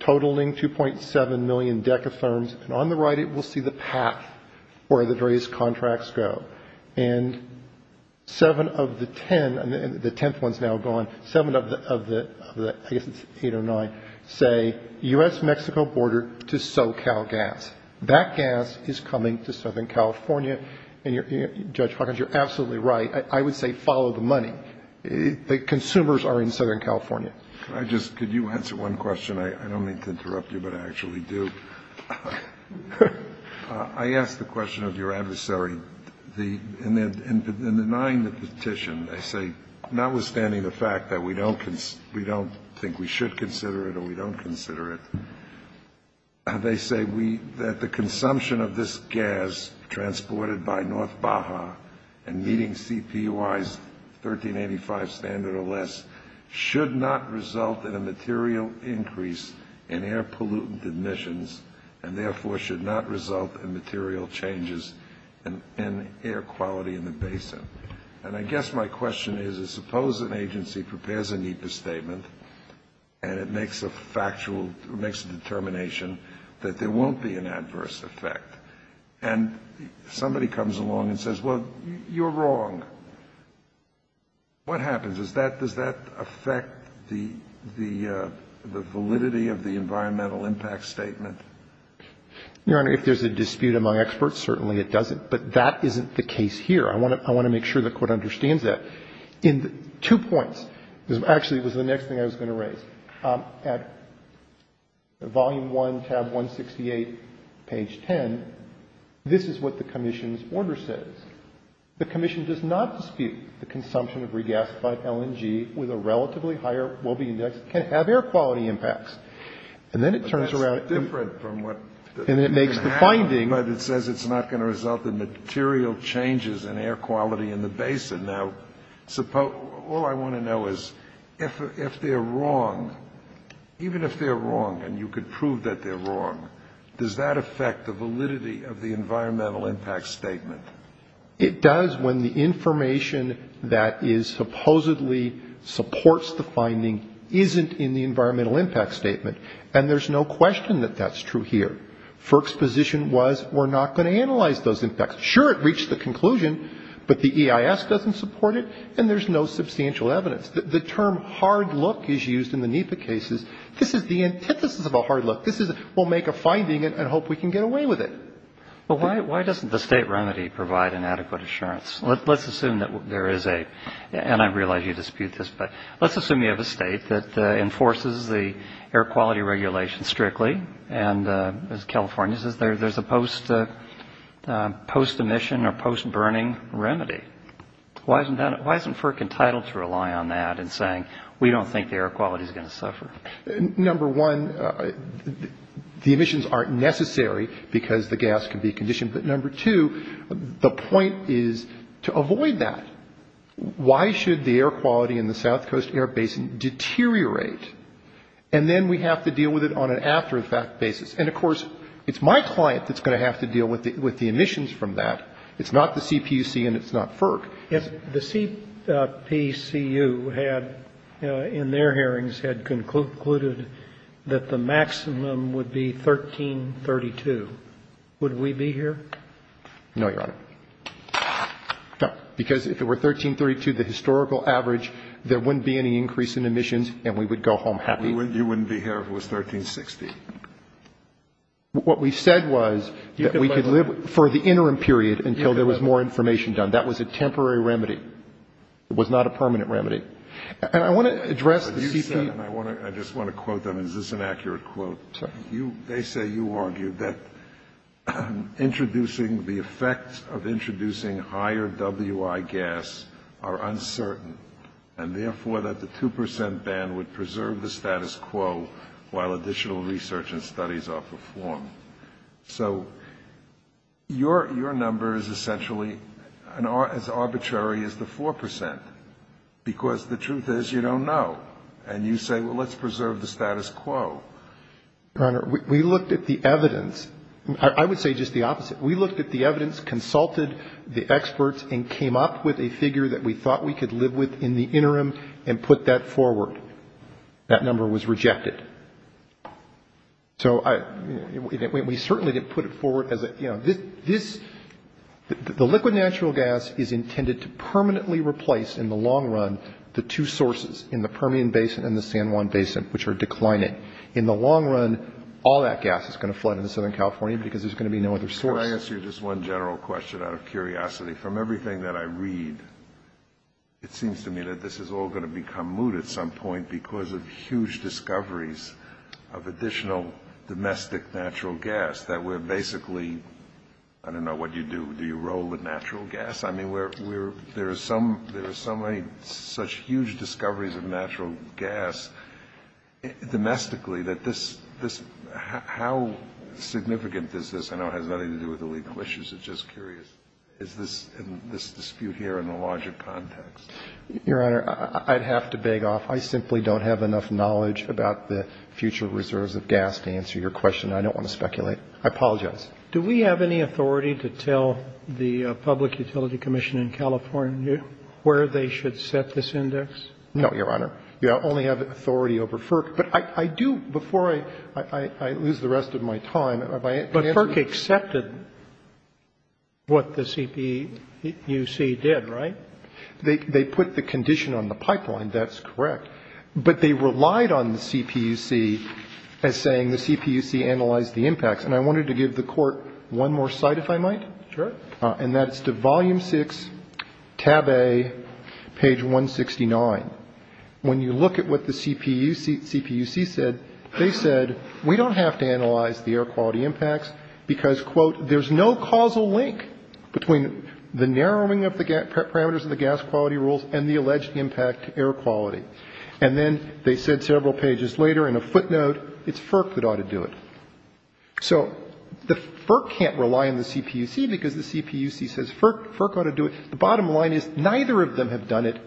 totaling 2.7 million decatherms. And on the right, it will see the path where the various companies are in the pipeline. And the third one, 7 of the 809 say U.S.-Mexico border to SoCal gas. That gas is coming to Southern California. And Judge Hawkins, you're absolutely right. I would say follow the money. The consumers are in Southern California. Kennedy. Could I just ask you one question. I don't mean to interrupt you, but I actually do. I ask the question of your adversary in denying the petition, they say, notwithstanding the fact that we don't think we should consider it or we don't consider it, they say that the consumption of this gas transported by North Baja and meeting CPY's 1385 standard or less should not result in a material increase in air pollutant emissions, and therefore should not result in material changes in air quality in the basin. And I guess my question is, how do you explain that? My question is, suppose an agency prepares a NEPA statement and it makes a factual, makes a determination that there won't be an adverse effect, and somebody comes along and says, well, you're wrong. What happens? Does that affect the validity of the environmental impact statement? Your Honor, if there's a dispute among experts, certainly it doesn't. But that isn't the case here. I want to make sure the Court understands that. In two points, this actually was the next thing I was going to raise. At Volume 1, tab 168, page 10, this is what the Commission's order says. The Commission does not dispute the consumption of regasified LNG with a relatively higher Willoughby index can have air quality impacts. And then it turns around and it makes the finding. But it says it's not going to result in material changes in air quality in the basin. Now, all I want to know is, if they're wrong, even if they're wrong, and you could prove that they're wrong, does that affect the validity of the environmental impact statement? It does when the information that supposedly supports the finding isn't in the environmental impact statement. And there's no question that that's true here. FERC's position was, we're not going to analyze those impacts. Sure, it reached the conclusion, but the EIS doesn't support it, and there's no substantial evidence. The term hard look is used in the NEPA cases. This is the antithesis of a hard look. This is, we'll make a finding and hope we can get away with it. Well, why doesn't the State remedy provide an adequate assurance? Let's assume that there is a, and I realize you dispute this, but let's assume you have a State that enforces the air quality regulation strictly, and as California's, there's a post-emission or post-burning remedy. Why isn't FERC entitled to rely on that in saying, we don't think the air quality is going to suffer? Number one, the emissions aren't necessary because the gas can be conditioned. But number two, the point is to avoid that. Why should the air quality be conditioned? Because if it's conditioned, it's going to deteriorate. And then we have to deal with it on an after-effect basis. And, of course, it's my client that's going to have to deal with the emissions from that. It's not the CPUC and it's not FERC. If the CPCU had, in their hearings, had concluded that the maximum would be 1332, would we be here? No, Your Honor. No, because if it were 1332, the historical average, there wouldn't be any increase in emissions. And we would go home happy. You wouldn't be here if it was 1360. What we said was that we could live for the interim period until there was more information done. That was a temporary remedy. It was not a permanent remedy. And I want to address the CPUC. I just want to quote them. Is this an accurate quote? They say you argued that introducing the effects of introducing higher WI gas are uncertain, and therefore that the 2% ban would preserve the status quo while additional research and studies are performed. So your number is essentially as arbitrary as the 4%. Because the truth is, you don't know. And you say, well, let's preserve the status quo. Your Honor, we looked at the evidence. I would say just the opposite. We looked at the evidence, consulted the experts, and came up with a figure that we thought we could live with in the interim and put that forward. That number was rejected. So we certainly didn't put it forward as a, you know, this, the liquid natural gas is intended to permanently replace, in the long run, the two sources. In the Permian Basin and the San Juan Basin, which are declining. In the long run, all that gas is going to flood into Southern California because there's going to be no other source. Could I ask you just one general question out of curiosity? From everything that I read, it seems to me that this is all going to become moot at some point because of huge discoveries of additional domestic natural gas. That we're basically, I don't know what you do, do you roll the natural gas? I mean, there are so many such huge discoveries of natural gas domestically that this, how significant is this? I know it has nothing to do with the legal issues. It's just curious. Is this dispute here in a larger context? Your Honor, I'd have to beg off. I simply don't have enough knowledge about the future reserves of gas to answer your question. I don't want to speculate. I apologize. Do we have any authority to tell the Public Utility Commission in California where they should set this index? No, Your Honor. You only have authority over FERC. But I do, before I lose the rest of my time, if I can answer your question. But FERC accepted what the CPUC did, right? They put the condition on the pipeline, that's correct. But they relied on the CPUC as saying the CPUC analyzed the impacts. And I wanted to give the Court one more cite, if I might. Sure. And that's to Volume 6, Tab A, page 169. When you look at what the CPUC said, they said, we don't have to analyze the air quality impacts because, quote, there's no causal link between the narrowing of the parameters of the gas quality rules and the alleged impact to air quality. And then they said several pages later, in a footnote, it's FERC that ought to do it. So the FERC can't rely on the CPUC because the CPUC says FERC ought to do it. The bottom line is, neither of them have done it.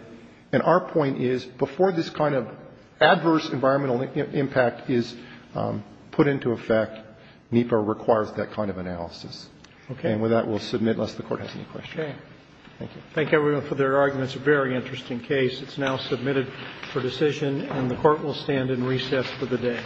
And our point is, before this kind of adverse environmental impact is put into effect, NEPA requires that kind of analysis. And with that, we'll submit, unless the Court has any questions. Thank you. Thank you, everyone, for their arguments. A very interesting case. It's now submitted for decision, and the Court will stand in recess for the day.